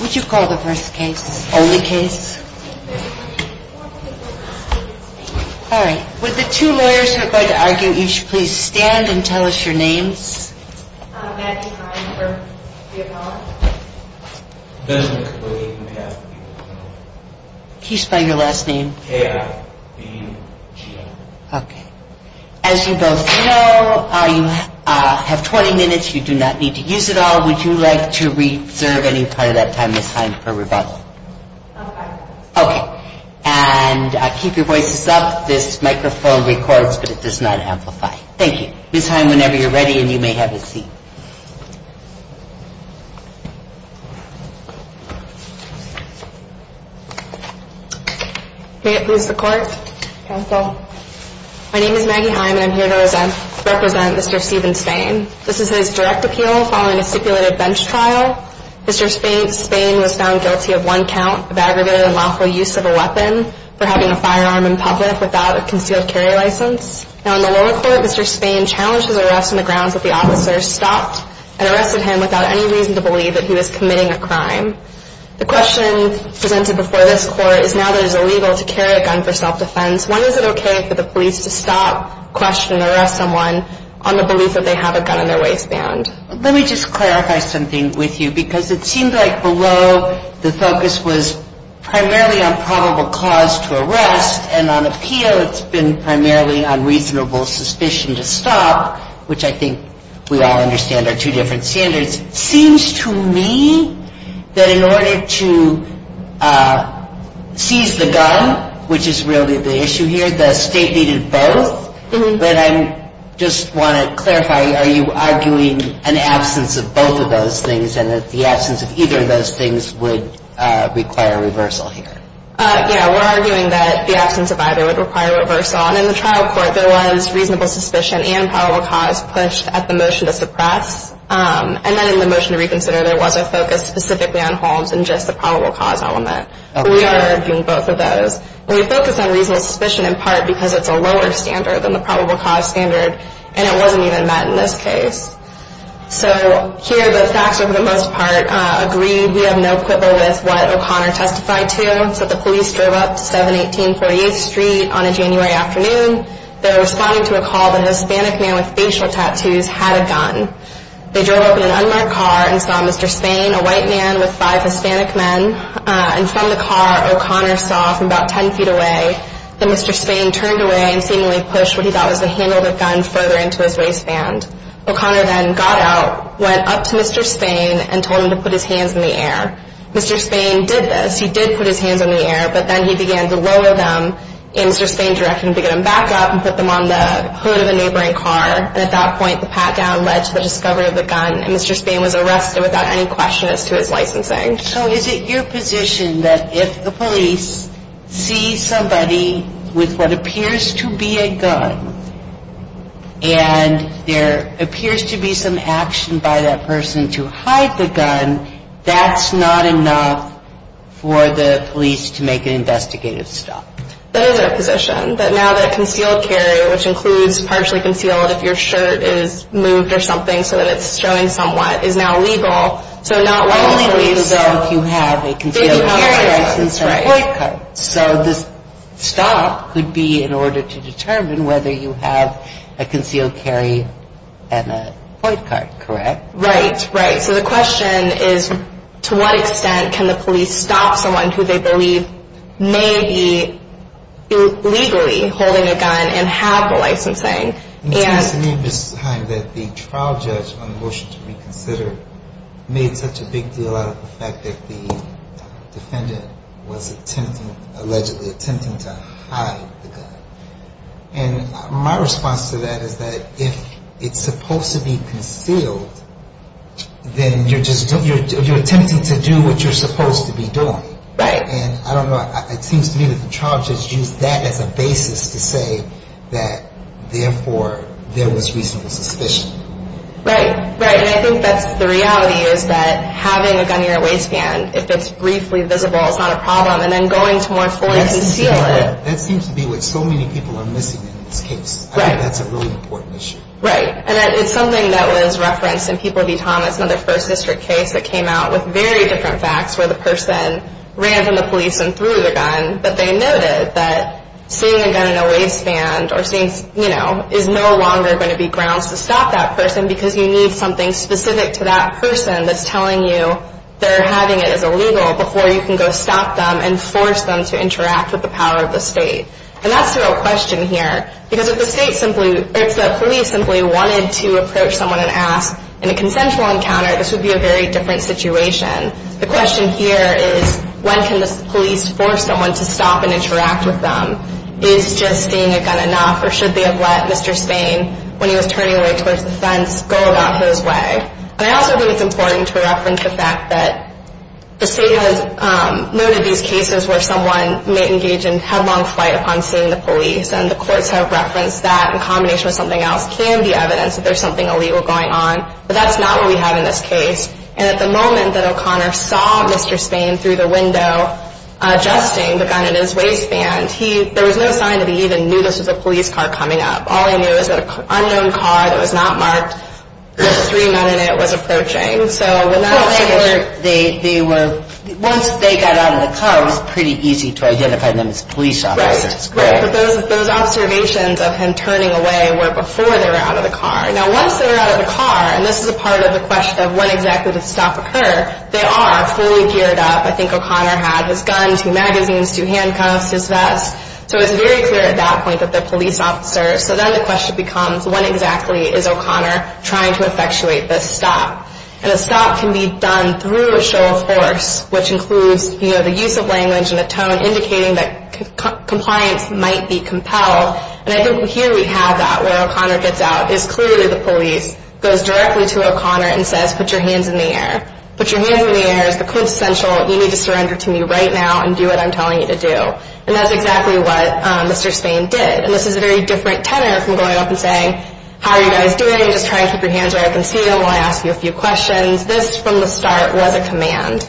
Would you call the first case? Only case? All right. Would the two lawyers who are going to argue each please stand and tell us your names? He's by your last name? Okay. As you both know, you have 20 minutes. You do not need to use it all. Would you like to reserve any part of that time, Ms. Heim, for rebuttal? I'm fine. Okay. And keep your voices up. This microphone records, but it does not amplify. Thank you. Ms. Heim, whenever you're ready and you may have a seat. May it please the court. Counsel. My name is Maggie Heim and I'm here to represent Mr. Stephen Spain. This is his direct appeal following a stipulated bench trial. Mr. Spain was found guilty of one count of aggravated and lawful use of a weapon for having a firearm in public without a concealed carry license. Now, in the lower court, Mr. Spain challenged his arrest on the grounds that the officer stopped and arrested him without any reason to believe that he was committing a crime. The question presented before this court is now that it is illegal to carry a gun for self-defense, when is it okay for the police to stop, question, and arrest someone on the belief that they have a gun in their waistband? Let me just clarify something with you, because it seemed like below the focus was primarily on probable cause to arrest, and on appeal it's been primarily on reasonable suspicion to stop, which I think we all understand are two different standards. It seems to me that in order to seize the gun, which is really the issue here, the state needed both, but I just want to clarify, are you arguing an absence of both of those things and that the absence of either of those things would require reversal here? Yeah, we're arguing that the absence of either would require reversal, and in the trial court there was reasonable suspicion and probable cause pushed at the motion to suppress, and then in the motion to reconsider there was a focus specifically on Holmes and just the probable cause element. We are arguing both of those. We focus on reasonable suspicion in part because it's a lower standard than the probable cause standard, and it wasn't even met in this case. So here the facts are for the most part agreed. We have no quibble with what O'Connor testified to. So the police drove up 718 48th Street on a January afternoon. They were responding to a call that a Hispanic man with facial tattoos had a gun. They drove up in an unmarked car and saw Mr. Spain, a white man with five Hispanic men, and from the car O'Connor saw from about 10 feet away that Mr. Spain turned away and seemingly pushed what he thought was the handle of the gun further into his waistband. O'Connor then got out, went up to Mr. Spain, and told him to put his hands in the air. Mr. Spain did this. He did put his hands in the air, but then he began to lower them, and Mr. Spain directed him to get them back up and put them on the hood of the neighboring car, and at that point the pat-down led to the discovery of the gun, and Mr. Spain was arrested without any question as to his licensing. So is it your position that if the police see somebody with what appears to be a gun, and there appears to be some action by that person to hide the gun, that's not enough for the police to make an investigative stop? That is our position, that now that concealed carry, which includes partially concealed if your shirt is moved or something so that it's showing somewhat, is now legal. So not only police know if you have a concealed carry license or a point card. So this stop could be in order to determine whether you have a concealed carry and a point card, correct? Right, right. So the question is to what extent can the police stop someone who they believe may be illegally holding a gun and have the licensing? It seems to me, Mrs. Hime, that the trial judge on the motion to reconsider made such a big deal out of the fact that the defendant was attempting, allegedly attempting to hide the gun. And my response to that is that if it's supposed to be concealed, then you're attempting to do what you're supposed to be doing. Right. And I don't know, it seems to me that the trial judge used that as a basis to say that, therefore, there was reasonable suspicion. Right, right. And I think that's the reality is that having a gun in your waistband, if it's briefly visible, it's not a problem. And then going to more fully conceal it. That seems to be what so many people are missing in this case. Right. I think that's a really important issue. Right. And it's something that was referenced in People v. Thomas, another First District case that came out with very different facts where the person ran from the police and threw the gun. But they noted that seeing a gun in a waistband or seeing, you know, is no longer going to be grounds to stop that person because you need something specific to that person that's telling you they're having it as illegal before you can go stop them and force them to interact with the power of the state. And that's the real question here. Because if the police simply wanted to approach someone and ask in a consensual encounter, this would be a very different situation. The question here is when can the police force someone to stop and interact with them? Is just seeing a gun enough or should they have let Mr. Stain, when he was turning away towards the fence, go about his way? And I also think it's important to reference the fact that the state has noted these cases where someone may engage in headlong flight upon seeing the police. And the courts have referenced that in combination with something else can be evidence that there's something illegal going on. But that's not what we have in this case. And at the moment that O'Connor saw Mr. Stain through the window adjusting the gun in his waistband, there was no sign that he even knew this was a police car coming up. All he knew was that an unknown car that was not marked with three men in it was approaching. So when that happened... Well, they were... Once they got out of the car, it was pretty easy to identify them as police officers. Right. But those observations of him turning away were before they were out of the car. Now, once they were out of the car, and this is a part of the question of when exactly did the stop occur, they are fully geared up. I think O'Connor had his gun, two magazines, two handcuffs, his vest. So it was very clear at that point that they're police officers. So then the question becomes, when exactly is O'Connor trying to effectuate this stop? And a stop can be done through a show of force, which includes, you know, the use of language and a tone indicating that compliance might be compelled. And I think here we have that where O'Connor gets out is clearly the police, goes directly to O'Connor and says, put your hands in the air. Put your hands in the air. It's the quintessential, you need to surrender to me right now and do what I'm telling you to do. And that's exactly what Mr. Spain did. And this is a very different tenor from going up and saying, how are you guys doing? Just try and keep your hands where I can see them while I ask you a few questions. This, from the start, was a command.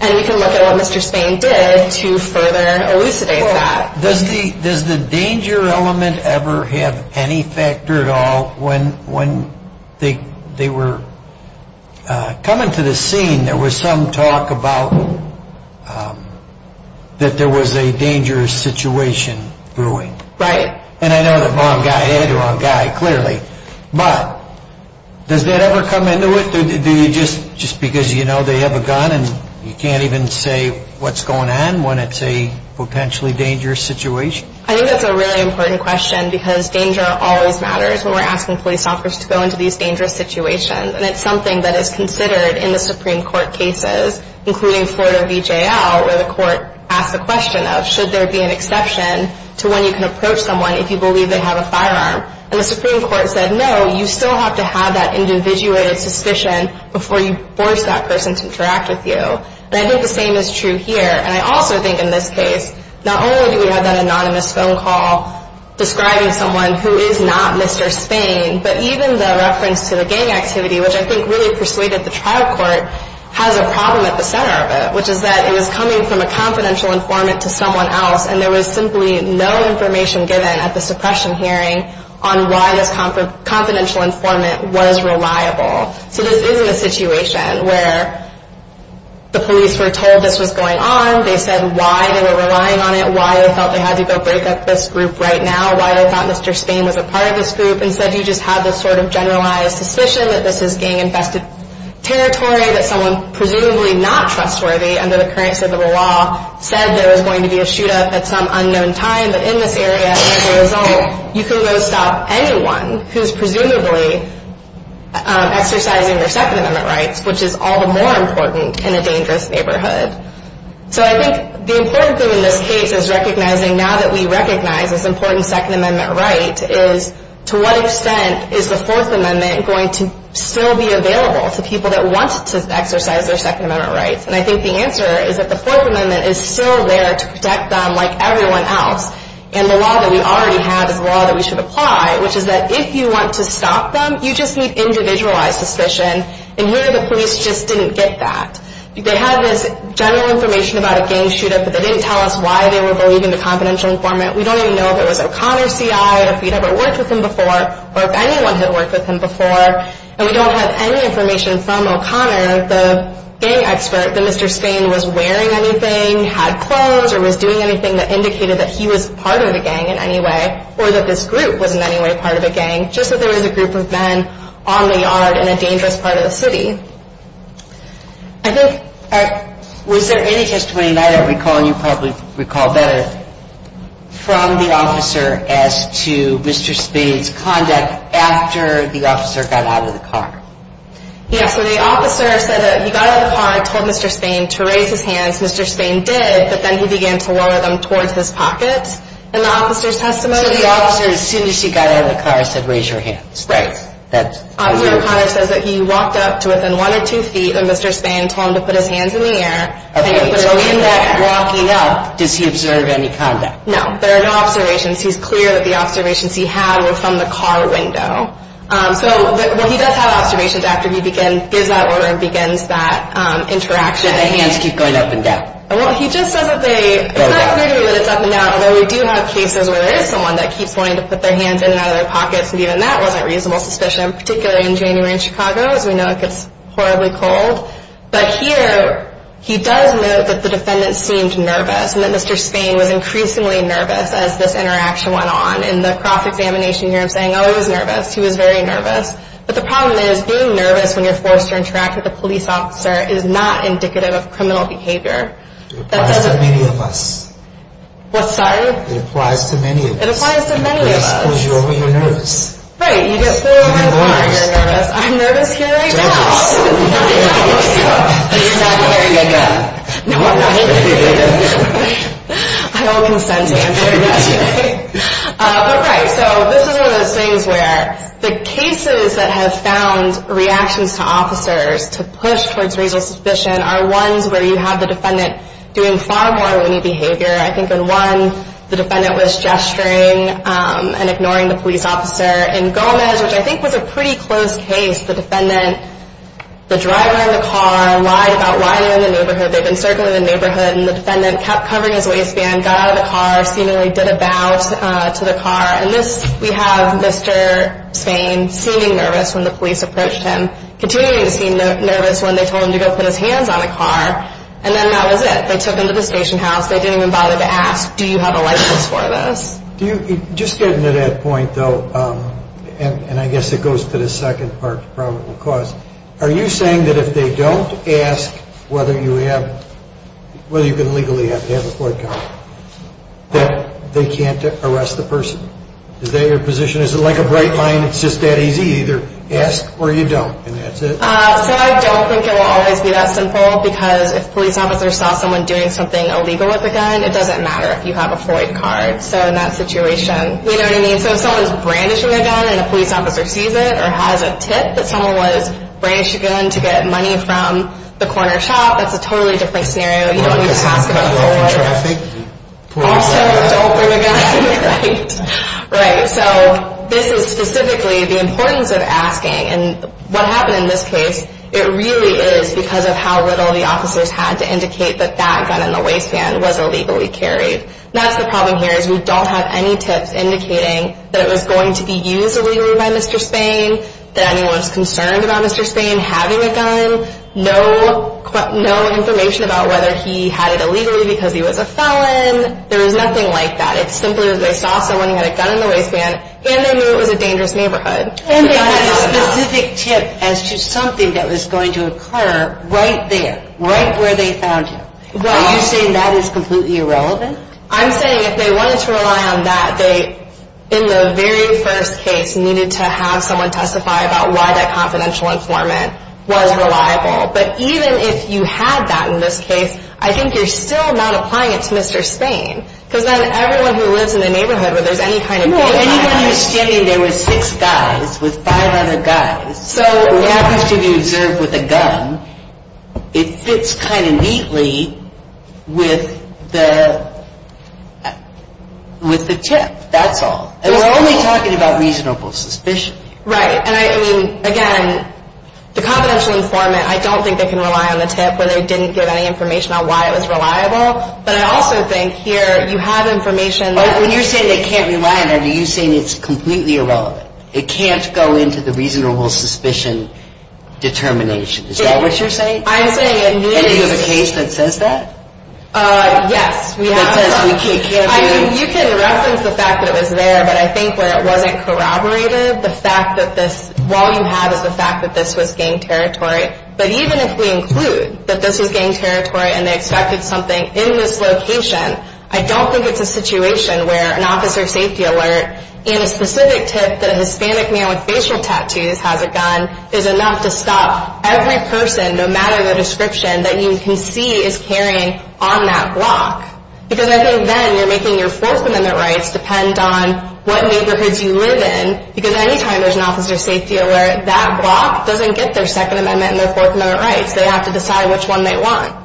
And we can look at what Mr. Spain did to further elucidate that. Does the danger element ever have any factor at all when they were coming to the scene, there was some talk about that there was a dangerous situation brewing. Right. And I know the wrong guy had the wrong guy, clearly. But does that ever come into it? Do you just, just because you know they have a gun and you can't even say what's going on when it's a potentially dangerous situation? I think that's a really important question because danger always matters when we're asking police officers to go into these dangerous situations. And it's something that is considered in the Supreme Court cases, including Florida V.J.L., where the court asks the question of, should there be an exception to when you can approach someone if you believe they have a firearm? And the Supreme Court said, no, you still have to have that individuated suspicion before you force that person to interact with you. And I think the same is true here. And I also think in this case, not only do we have that anonymous phone call describing someone who is not Mr. Spain, but even the reference to the gang activity, which I think really persuaded the trial court, has a problem at the center of it, which is that it was coming from a confidential informant to someone else, and there was simply no information given at the suppression hearing on why this confidential informant was reliable. So this isn't a situation where the police were told this was going on. They said why they were relying on it, why they felt they had to go break up this group right now, why they thought Mr. Spain was a part of this group. Instead, you just have this sort of generalized suspicion that this is gang-infested territory, that someone presumably not trustworthy under the current civil law said there was going to be a shoot-up at some unknown time, but in this area, as a result, you can go stop anyone who is presumably exercising their Second Amendment rights, which is all the more important in a dangerous neighborhood. So I think the important thing in this case is recognizing, now that we recognize this important Second Amendment right, is to what extent is the Fourth Amendment going to still be available to people that want to exercise their Second Amendment rights? And I think the answer is that the Fourth Amendment is still there to protect them like everyone else, and the law that we already have is the law that we should apply, which is that if you want to stop them, you just need individualized suspicion, and here the police just didn't get that. They had this general information about a gang shoot-up, but they didn't tell us why they were believing the confidential informant. We don't even know if it was O'Connor, C.I., or if we'd ever worked with him before, or if anyone had worked with him before, and we don't have any information from O'Connor, the gang expert, that Mr. Spain was wearing anything, had clothes, or was doing anything that indicated that he was part of the gang in any way, or that this group was in any way part of a gang, just that there was a group of men on the yard in a dangerous part of the city. I think, was there any testimony that I recall, and you probably recall better, from the officer as to Mr. Spain's conduct after the officer got out of the car? Yeah, so the officer said that he got out of the car and told Mr. Spain to raise his hands. Mr. Spain did, but then he began to lower them towards his pocket, and the officer's testimony... So the officer, as soon as she got out of the car, said, raise your hands? Right. Officer O'Connor says that he walked up to within one or two feet, and Mr. Spain told him to put his hands in the air. Okay, so in that walking up, does he observe any conduct? No, there are no observations. He's clear that the observations he had were from the car window. So he does have observations after he gives that order and begins that interaction. Do the hands keep going up and down? Well, he just says that they... It's not clear to me that it's up and down, although we do have cases where there is someone that keeps wanting to put their hands in and out of their pockets, and even that wasn't reasonable suspicion, particularly in January in Chicago, as we know it gets horribly cold. But here, he does note that the defendant seemed nervous, and that Mr. Spain was increasingly nervous as this interaction went on. In the Croft examination here, I'm saying, oh, he was nervous. He was very nervous. But the problem is, being nervous when you're forced to interact with a police officer is not indicative of criminal behavior. It applies to many of us. It applies to many of us. It applies to many of us. Yes, because you're nervous. Right. You get pulled over the car, you're nervous. I'm nervous here right now. Don't be. This is not where you go. No, I'm not. I don't consent to answering that. But, right, so this is one of those things where the cases that have found reactions to officers to push towards reasonable suspicion are ones where you have the defendant doing far more loony behavior. I think in one, the defendant was gesturing and ignoring the police officer. In Gomez, which I think was a pretty close case, the defendant, the driver in the car, lied about lying in the neighborhood. They'd been circling the neighborhood, and the defendant kept covering his waistband, got out of the car, seemingly did a bow to the car. In this, we have Mr. Spain seeming nervous when the police approached him, continuing to seem nervous when they told him to go put his hands on the car. And then that was it. They took him to the station house. They didn't even bother to ask, do you have a license for this? Just getting to that point, though, and I guess it goes to the second part to probable cause, are you saying that if they don't ask whether you can legally have a court comment, that they can't arrest the person? Is that your position? Is it like a bright line? It's just that easy? You either ask or you don't, and that's it. So I don't think it will always be that simple, because if a police officer saw someone doing something illegal with a gun, it doesn't matter if you have a Floyd card. So in that situation, you know what I mean? So if someone is brandishing a gun and a police officer sees it or has a tip that someone was brandishing a gun to get money from the corner shop, that's a totally different scenario. You don't need to ask about it. Like a son cut off in traffic? Also to open a gun, right? Right. So this is specifically the importance of asking, and what happened in this case, it really is because of how little the officers had to indicate that that gun in the waistband was illegally carried. That's the problem here is we don't have any tips indicating that it was going to be used illegally by Mr. Spain, that anyone was concerned about Mr. Spain having a gun, no information about whether he had it illegally because he was a felon. There was nothing like that. It's simply that they saw someone who had a gun in the waistband, and they knew it was a dangerous neighborhood. And they had a specific tip as to something that was going to occur right there, right where they found you. Are you saying that is completely irrelevant? I'm saying if they wanted to rely on that, they, in the very first case, needed to have someone testify about why that confidential informant was reliable. But even if you had that in this case, I think you're still not applying it to Mr. Spain because then everyone who lives in the neighborhood where there's any kind of gun. Anyone who's standing there with six guys, with five other guys, who happens to be observed with a gun, it fits kind of neatly with the tip. That's all. And we're only talking about reasonable suspicion. Right. And I mean, again, the confidential informant, I don't think they can rely on the tip where they didn't give any information on why it was reliable. But I also think here you have information. When you're saying they can't rely on it, are you saying it's completely irrelevant? It can't go into the reasonable suspicion determination. Is that what you're saying? I'm saying it needs. And you have a case that says that? Yes. That says we can't do. You can reference the fact that it was there, but I think where it wasn't corroborated, the fact that this, all you have is the fact that this was gang territory. But even if we include that this was gang territory and they expected something in this location, I don't think it's a situation where an officer of safety alert and a specific tip that a Hispanic man with facial tattoos has a gun is enough to stop every person, no matter the description, that you can see is carrying on that block. Because I think then you're making your Fourth Amendment rights depend on what neighborhoods you live in. Because any time there's an officer of safety alert, that block doesn't get their Second Amendment and their Fourth Amendment rights. They have to decide which one they want.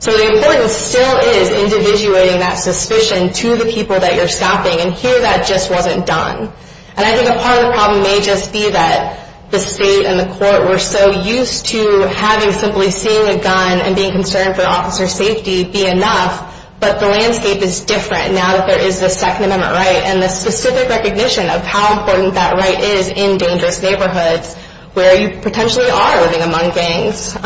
So the importance still is individuating that suspicion to the people that you're stopping. And here that just wasn't done. And I think a part of the problem may just be that the state and the court were so used to having simply seeing a gun and being concerned for officer safety be enough, but the landscape is different now that there is the Second Amendment right and the specific recognition of how important that right is in dangerous neighborhoods where you potentially are living among gangs.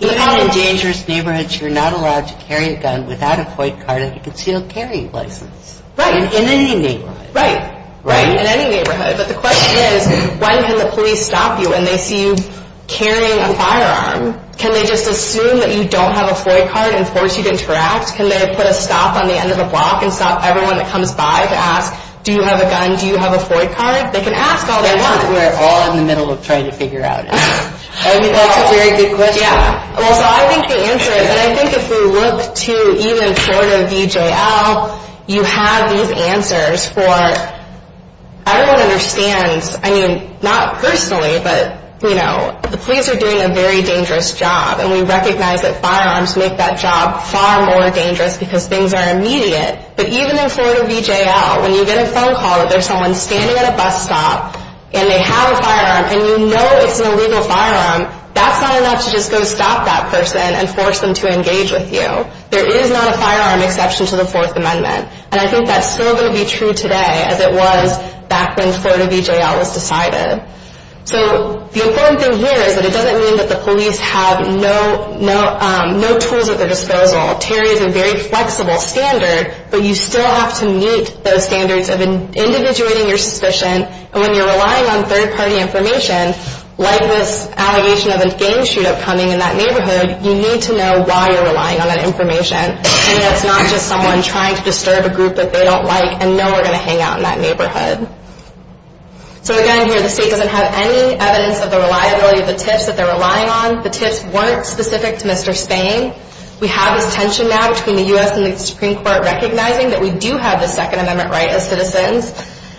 Even in dangerous neighborhoods you're not allowed to carry a gun without a FOID card and you can still carry a license. Right. In any neighborhood. Right. Right. In any neighborhood. But the question is, when can the police stop you and they see you carrying a firearm, can they just assume that you don't have a FOID card and force you to interact? Can they put a stop on the end of a block and stop everyone that comes by to ask, do you have a gun, do you have a FOID card? They can ask all they want. We're all in the middle of trying to figure out. I mean, that's a very good question. Yeah. Well, so I think the answer is, and I think if we look to even Florida VJL, you have these answers for everyone understands, I mean, not personally, but, you know, the police are doing a very dangerous job and we recognize that firearms make that job far more dangerous because things are immediate. But even in Florida VJL, when you get a phone call that there's someone standing at a bus stop and they have a firearm and you know it's an illegal firearm, that's not enough to just go stop that person and force them to engage with you. There is not a firearm exception to the Fourth Amendment. And I think that's still going to be true today as it was back when Florida VJL was decided. So the important thing here is that it doesn't mean that the police have no tools at their disposal. Terry is a very flexible standard, but you still have to meet those standards of individuating your suspicion. And when you're relying on third-party information, like this allegation of a game shoot-up coming in that neighborhood, you need to know why you're relying on that information so that it's not just someone trying to disturb a group that they don't like and know we're going to hang out in that neighborhood. So again, here the state doesn't have any evidence of the reliability of the tips that they're relying on. The tips weren't specific to Mr. Spain. We have this tension now between the U.S. and the Supreme Court recognizing that we do have the Second Amendment right as citizens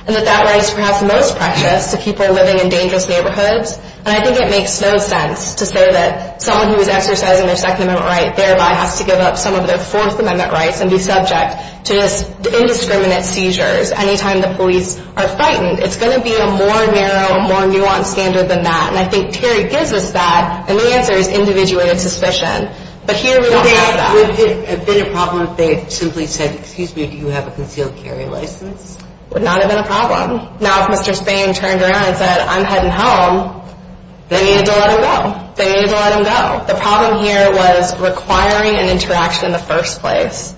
and that that right is perhaps most precious to people living in dangerous neighborhoods. And I think it makes no sense to say that someone who is exercising their Second Amendment right thereby has to give up some of their Fourth Amendment rights and be subject to indiscriminate seizures anytime the police are frightened. It's going to be a more narrow, more nuanced standard than that. And I think Terry gives us that, and the answer is individuated suspicion. But here we don't have that. Would it have been a problem if they had simply said, excuse me, do you have a concealed carry license? It would not have been a problem. Now if Mr. Spain turned around and said, I'm heading home, they needed to let him go. They needed to let him go. The problem here was requiring an interaction in the first place.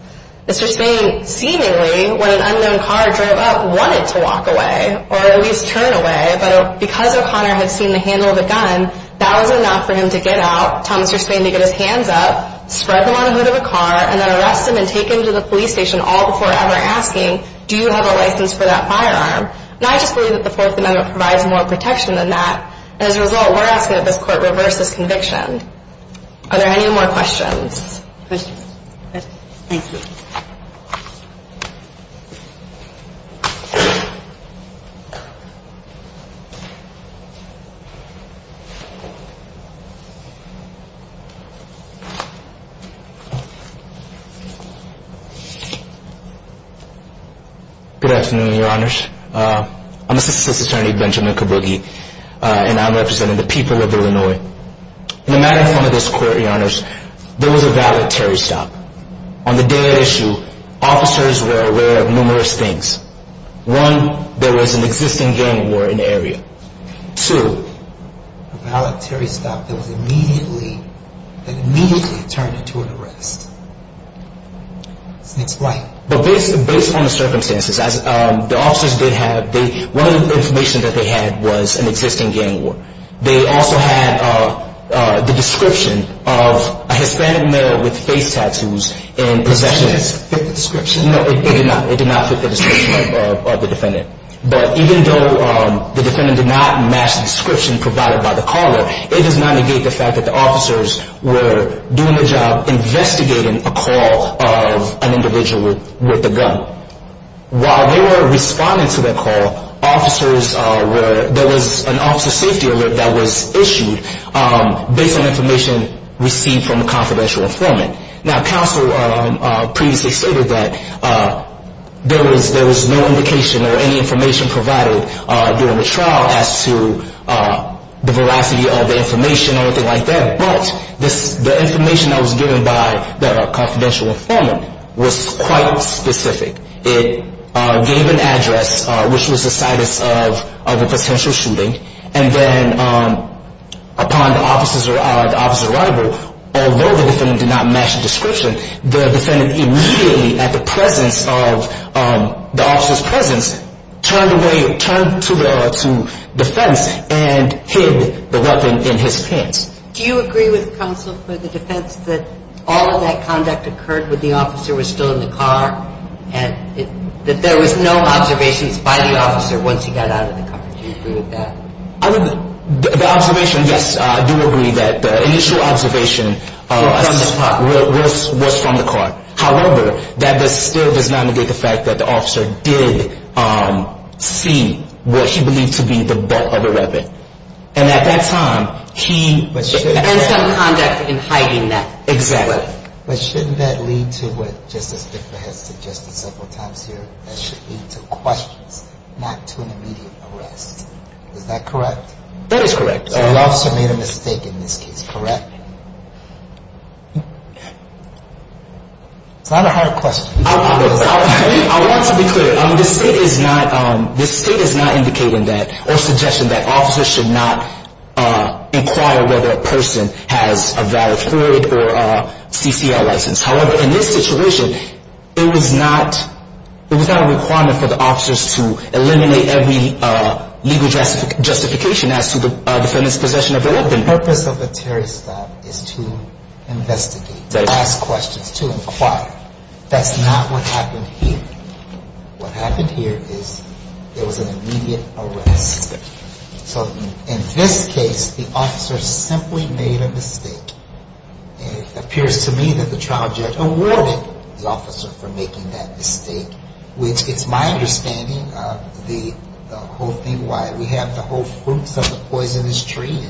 Mr. Spain seemingly, when an unknown car drove up, wanted to walk away or at least turn away. But because O'Connor had seen the handle of the gun, that was enough for him to get out, Thomas or Spain to get his hands up, spread them on the hood of a car, and then arrest him and take him to the police station all before ever asking, do you have a license for that firearm? And I just believe that the Fourth Amendment provides more protection than that. And as a result, we're asking that this Court reverse this conviction. Are there any more questions? Thank you. Good afternoon, Your Honors. I'm Assistant Justice Attorney Benjamin Kabugi, and I'm representing the people of Illinois. In the matter in front of this Court, Your Honors, there was a valedictory stop. On the day of the issue, officers were aware of numerous things. One, there was an existing gang war in the area. Two, a valedictory stop that immediately turned into an arrest. But based on the circumstances, as the officers did have, one of the information that they had was an existing gang war. They also had the description of a Hispanic male with face tattoos in possession. It did not fit the description. No, it did not. It did not fit the description of the defendant. But even though the defendant did not match the description provided by the caller, it does not negate the fact that the officers were doing a job investigating a call of an individual with a gun. While they were responding to the call, there was an officer safety alert that was issued based on information received from a confidential informant. Now, counsel previously stated that there was no indication or any information provided during the trial as to the veracity of the information or anything like that. But the information that was given by the confidential informant was quite specific. It gave an address, which was the situs of a potential shooting. And then upon the officer's arrival, although the defendant did not match the description, the defendant immediately, at the presence of the officer's presence, turned to defense and hid the weapon in his pants. Do you agree with counsel for the defense that all of that conduct occurred when the officer was still in the car and that there was no observations by the officer once he got out of the car? Do you agree with that? The observation, yes, I do agree that the initial observation was from the car. However, that still does not negate the fact that the officer did see what he believed to be the butt of a weapon. And at that time, he... And some conduct in hiding that. Exactly. But shouldn't that lead to what Justice Bickford has suggested several times here? That should lead to questions, not to an immediate arrest. Is that correct? That is correct. So the officer made a mistake in this case, correct? It's not a hard question. I want to be clear. The state is not indicating that or suggesting that officers should not inquire whether a person has a valid hood or a CCL license. However, in this situation, it was not a requirement for the officers to eliminate every legal justification as to the feminist possession of a weapon. The purpose of a terrorist act is to investigate, to ask questions, to inquire. That's not what happened here. What happened here is there was an immediate arrest. So in this case, the officer simply made a mistake. It appears to me that the trial judge awarded the officer for making that mistake, which it's my understanding of the whole thing, why we have the whole fruits of the poisonous tree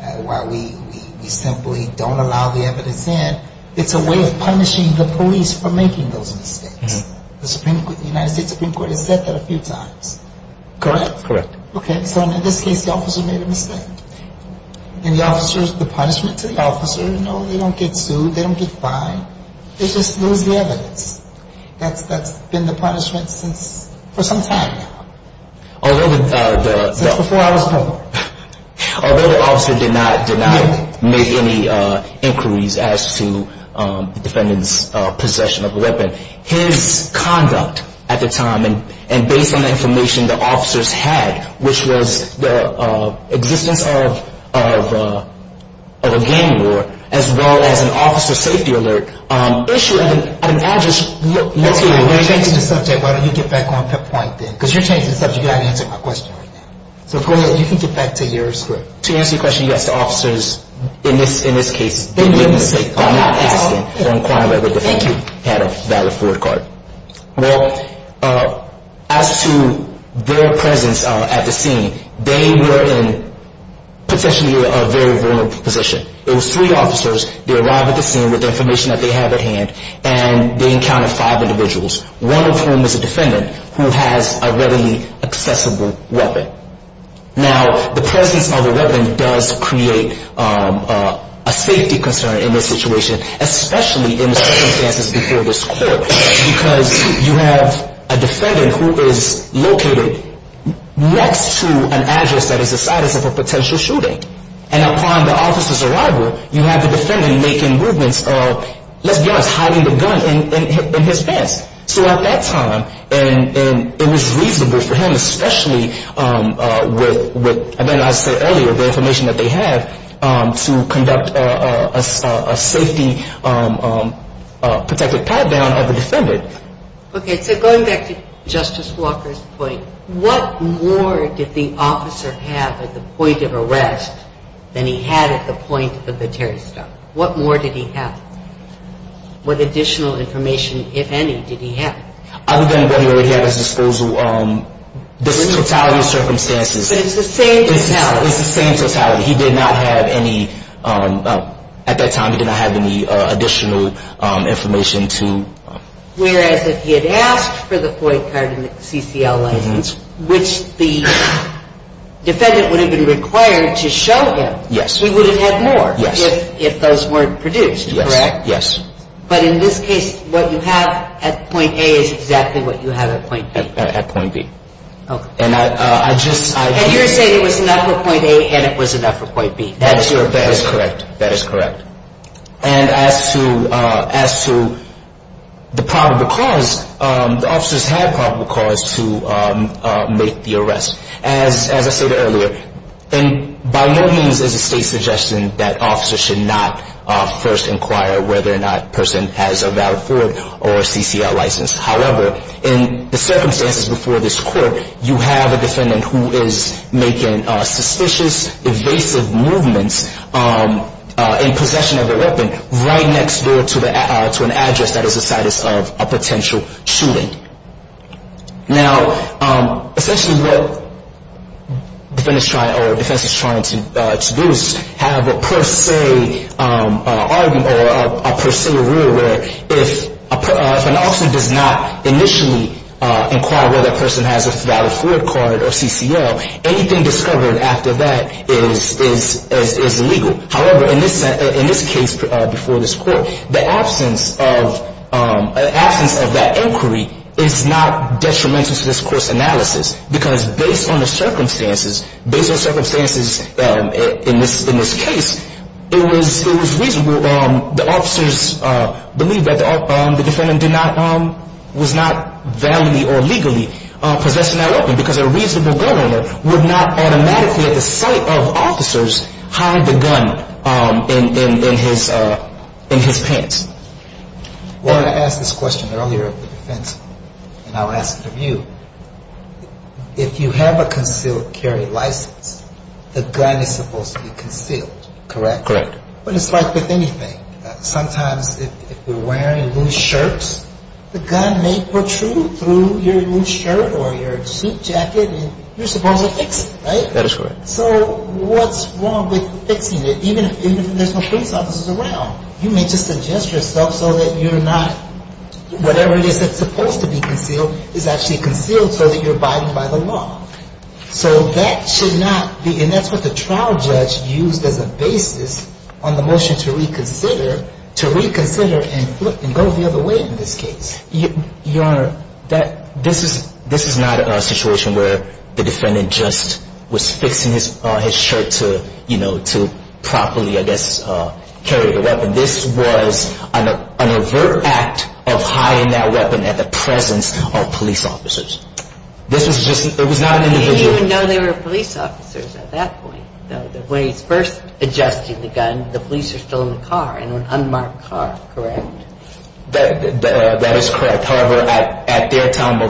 and why we simply don't allow the evidence in. It's a way of punishing the police for making those mistakes. The United States Supreme Court has said that a few times. Correct? Correct. Okay. So in this case, the officer made a mistake. And the officer, the punishment to the officer, no, they don't get sued. They don't get fined. They just lose the evidence. That's been the punishment since, for some time now. Since before I was born. Although the officer did not make any inquiries as to the defendant's possession of a weapon, his conduct at the time, and based on the information the officers had, which was the existence of a gang war, as well as an officer safety alert, issue of an address. You're changing the subject. Why don't you get back on point then? Because you're changing the subject. You haven't answered my question right now. So go ahead. You can get back to your script. To answer your question, yes, the officers, in this case, did make a mistake. I'm not asking to inquire whether the defendant had a valid Ford card. Well, as to their presence at the scene, they were in potentially a very vulnerable position. It was three officers. They arrived at the scene with the information that they had at hand, and they encountered five individuals, one of whom was a defendant who has a readily accessible weapon. Now, the presence of a weapon does create a safety concern in this situation, especially in the circumstances before this court, because you have a defendant who is located next to an address that is the site of a potential shooting. And upon the officer's arrival, you have the defendant making movements of, let's be honest, hiding the gun in his pants. So at that time, and it was reasonable for him, especially with, as I said earlier, the information that they had to conduct a safety protective pat-down of the defendant. Okay. So going back to Justice Walker's point, what more did the officer have at the point of arrest than he had at the point of the terrorist attack? What more did he have? What additional information, if any, did he have? Other than what he had at his disposal, the totality of circumstances. But it's the same totality. It's the same totality. He did not have any, at that time, he did not have any additional information to. Whereas if he had asked for the FOIA card and the CCL license, which the defendant would have been required to show him. Yes. He would have had more. Yes. If those weren't produced, correct? Yes. But in this case, what you have at point A is exactly what you have at point B. At point B. Okay. And I just... And you're saying it was enough for point A and it was enough for point B. That is correct. That is correct. And as to the probable cause, the officers had probable cause to make the arrest. As I stated earlier, by no means is the state suggesting that officers should not first inquire whether or not a person has a valid FOIA or CCL license. However, in the circumstances before this court, you have a defendant who is making suspicious, evasive movements in possession of a weapon right next door to an address that is the site of a potential shooting. Now, essentially what the defense is trying to do is have a per se argument or a per se rule where if an officer does not initially inquire whether a person has a valid FOIA card or CCL, anything discovered after that is illegal. However, in this case before this court, the absence of that inquiry is not detrimental to this court's analysis because based on the circumstances, based on circumstances in this case, it was reasonable. The officers believe that the defendant was not validly or legally possessing that weapon because a reasonable amount of evidence suggests that the defendant did not have a valid FOIA card or CCL license. Now, if the defendant did not have a valid FOIA card or CCL license, then it is possible that the defendant did not have a valid FOIA card or CCL license. So the defense is trying to make a case of officers hiding the gun in his pants. So what's wrong with fixing it? Even if there's no police officers around, you may just suggest yourself so that you're not whatever it is that's supposed to be concealed is actually concealed so that you're abiding by the law. So that should not be, and that's what the trial judge used as a basis on the motion to reconsider, to reconsider and go the other way in this case. Your Honor, this is not a situation where the defendant just was fixing his shirt to, you know, to properly, I guess, carry the weapon. This was an overt act of hiding that weapon at the presence of police officers. This was just, it was not an individual. I didn't even know they were police officers at that point. When he's first adjusting the gun, the police are still in the car, in an unmarked car, correct? That is correct. However, at their time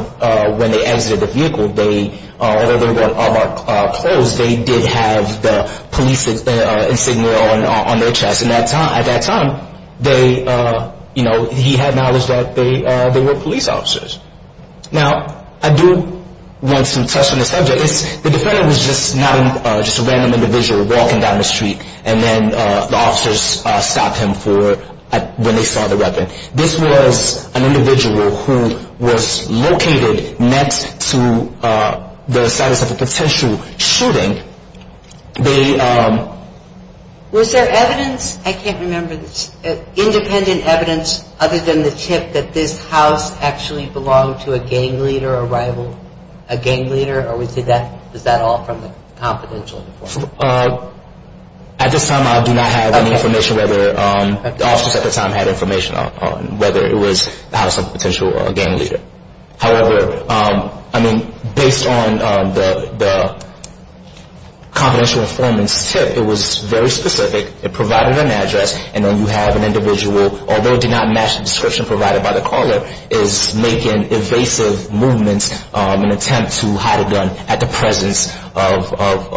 when they exited the vehicle, they, although they were unmarked, closed, they did have the police insignia on their chest. And at that time, they, you know, he had knowledge that they were police officers. Now, I do want some touch on the subject. The defendant was just not, just a random individual walking down the street, and then the officers stopped him for, when they saw the weapon. This was an individual who was located next to the site of a potential shooting. They... Was there evidence, I can't remember, independent evidence, other than the tip, that this house actually belonged to a gang leader, a rival, a gang leader? Or was it that, was that all from the confidential? At this time, I do not have any information whether, the officers at the time had information on whether it was the house of a potential gang leader. However, I mean, based on the confidential informant's tip, it was very specific. It provided an address, and then you have an individual, although it did not match the description provided by the caller, is making evasive movements in an attempt to hide a gun at the presence of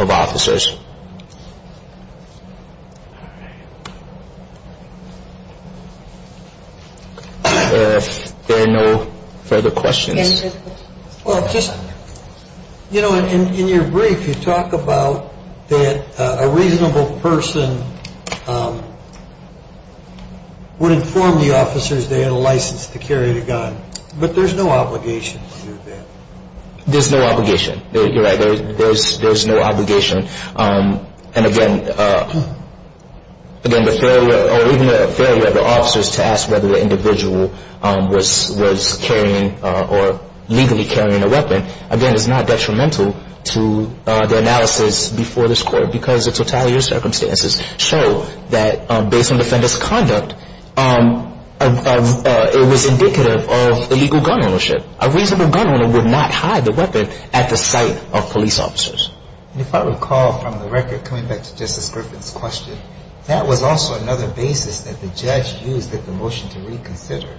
officers. If there are no further questions. Well, just, you know, in your brief, you talk about that a reasonable person would inform the officers they had a license to carry the gun, but there's no obligation to do that. There's no obligation. You're right, there's no obligation. And again, even the failure of the officers to ask whether the individual was carrying, or legally carrying a weapon, again, is not detrimental to the analysis before this court, because the totalitarian circumstances show that based on the defendant's conduct, it was indicative of illegal gun ownership. A reasonable gun owner would not hide a weapon at the sight of police officers. If I recall from the record, coming back to Justice Griffin's question, that was also another basis that the judge used at the motion to reconsider,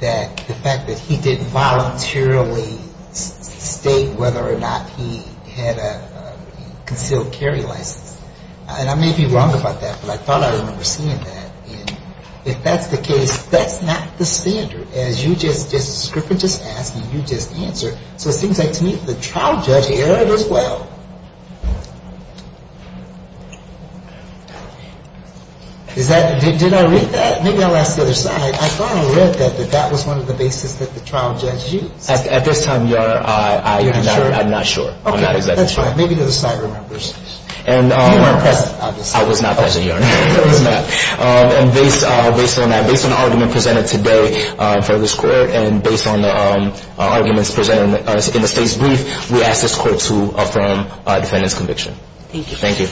that the fact that he didn't voluntarily state whether or not he had a concealed carry license. And I may be wrong about that, but I thought I remember seeing that. And if that's the case, that's not the standard, as you just, Justice Griffin just asked and you just answered. So it seems like to me the trial judge heard it as well. Is that, did I read that? Maybe I'll ask the other side. I thought I read that, that that was one of the basis that the trial judge used. At this time, Your Honor, I'm not sure. Okay. I'm not exactly sure. That's fine. Maybe the other side remembers. You weren't present, obviously. I was not present, Your Honor. So he's not. And based on that, based on the argument presented today for this court, and based on the arguments presented in the state's brief, we ask this court to affirm the defendant's conviction. Thank you. Thank you.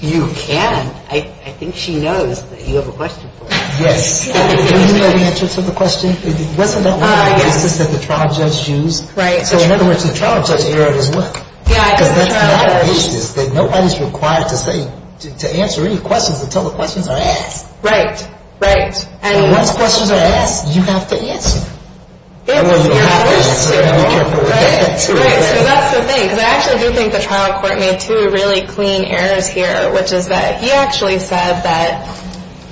You can. I think she knows that you have a question for her. Yes. Do you know the answer to the question? Wasn't that one of the basis that the trial judge used? Right. So in other words, the trial judge heard it as well. Yeah. Because that's the basis that nobody's required to say, to answer any questions until the questions are asked. Right. Right. And once questions are asked, you have to answer. Right. Right. So that's the thing. Because I actually do think the trial court made two really clean errors here, which is that he actually said that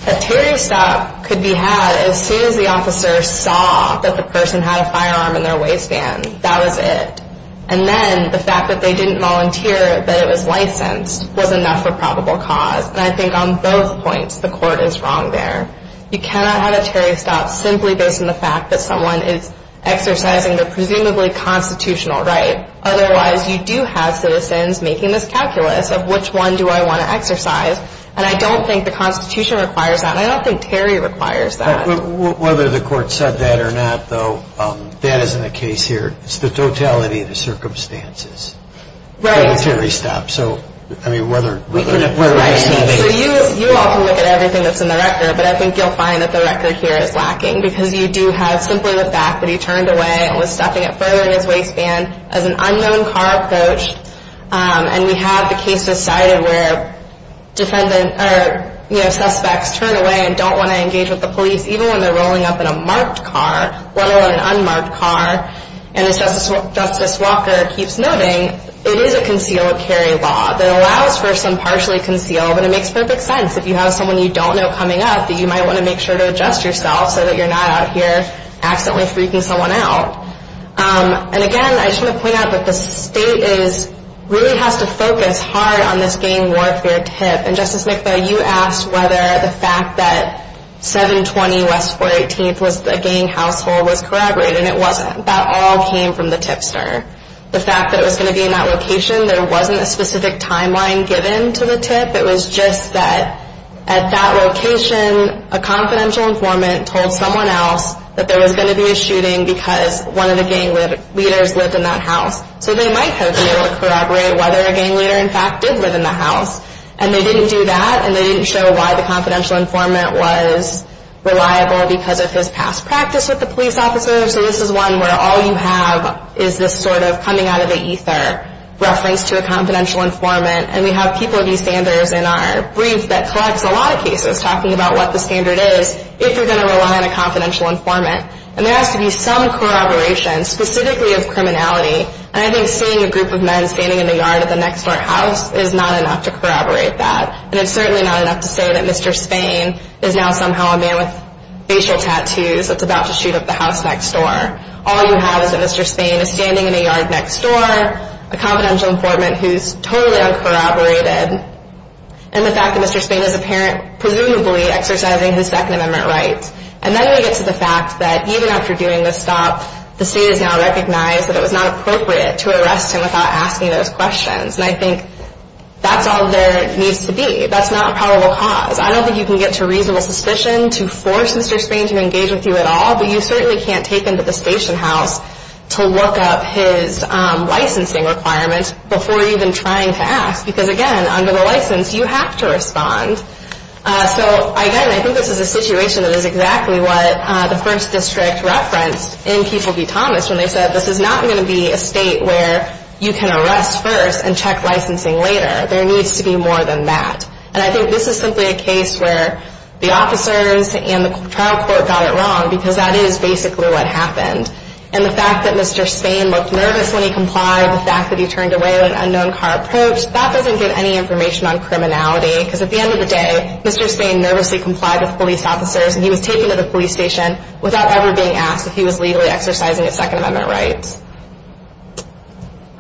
a Terry stop could be had as soon as the officer saw that the person had a firearm in their waistband. That was it. And then the fact that they didn't volunteer that it was licensed was enough for probable cause. And I think on both points the court is wrong there. You cannot have a Terry stop simply based on the fact that someone is exercising their presumably constitutional right. Otherwise, you do have citizens making this calculus of which one do I want to exercise. And I don't think the Constitution requires that. And I don't think Terry requires that. Whether the court said that or not, though, that isn't the case here. It's the totality of the circumstances. Right. Terry stop. So, I mean, whether it's not based. So you all can look at everything that's in the record, but I think you'll find that the record here is lacking because you do have simply the fact that he turned away and was stepping up further in his waistband as an unknown car approached. And we have the case decided where defendant or, you know, suspects turn away and don't want to engage with the police, even when they're rolling up in a marked car, let alone an unmarked car. And as Justice Walker keeps noting, it is a concealed carry law that allows for some partially concealed, but it makes perfect sense. If you have someone you don't know coming up, you might want to make sure to adjust yourself so that you're not out here accidentally freaking someone out. And, again, I just want to point out that the state really has to focus hard on this gang warfare tip. And, Justice Nickla, you asked whether the fact that 720 West 418th was a gang household was corroborated. And it wasn't. That all came from the tipster. The fact that it was going to be in that location, there wasn't a specific timeline given to the tip. It was just that at that location, a confidential informant told someone else that there was going to be a shooting because one of the gang leaders lived in that house. So they might have been able to corroborate whether a gang leader, in fact, did live in the house. And they didn't do that. And they didn't show why the confidential informant was reliable because of his past practice with the police officers. So this is one where all you have is this sort of coming out of the ether reference to a confidential informant. And we have people at East Sanders in our brief that collects a lot of cases talking about what the standard is if you're going to rely on a confidential informant. And there has to be some corroboration specifically of criminality. And I think seeing a group of men standing in the yard of the next-door house is not enough to corroborate that. And it's certainly not enough to say that Mr. Spain is now somehow a man with facial tattoos that's about to shoot up the house next door. All you have is that Mr. Spain is standing in a yard next door, a confidential informant who's totally uncorroborated, and the fact that Mr. Spain is presumably exercising his Second Amendment rights. And then we get to the fact that even after doing this stop, the state has now recognized that it was not appropriate to arrest him without asking those questions. And I think that's all there needs to be. That's not a probable cause. I don't think you can get to reasonable suspicion to force Mr. Spain to engage with you at all, but you certainly can't take him to the station house to look up his licensing requirements before even trying to ask because, again, under the license, you have to respond. So, again, I think this is a situation that is exactly what the 1st District referenced in People v. Thomas when they said this is not going to be a state where you can arrest first and check licensing later. There needs to be more than that. And I think this is simply a case where the officers and the trial court got it wrong because that is basically what happened. And the fact that Mr. Spain looked nervous when he complied, the fact that he turned away with an unknown car approach, that doesn't give any information on criminality because at the end of the day, Mr. Spain nervously complied with police officers, and he was taken to the police station without ever being asked if he was legally exercising his Second Amendment rights.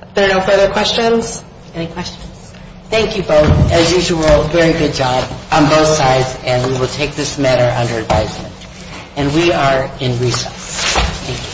Are there no further questions? Any questions? Thank you both. As usual, very good job on both sides, and we will take this matter under advisement. And we are in recess. Thank you.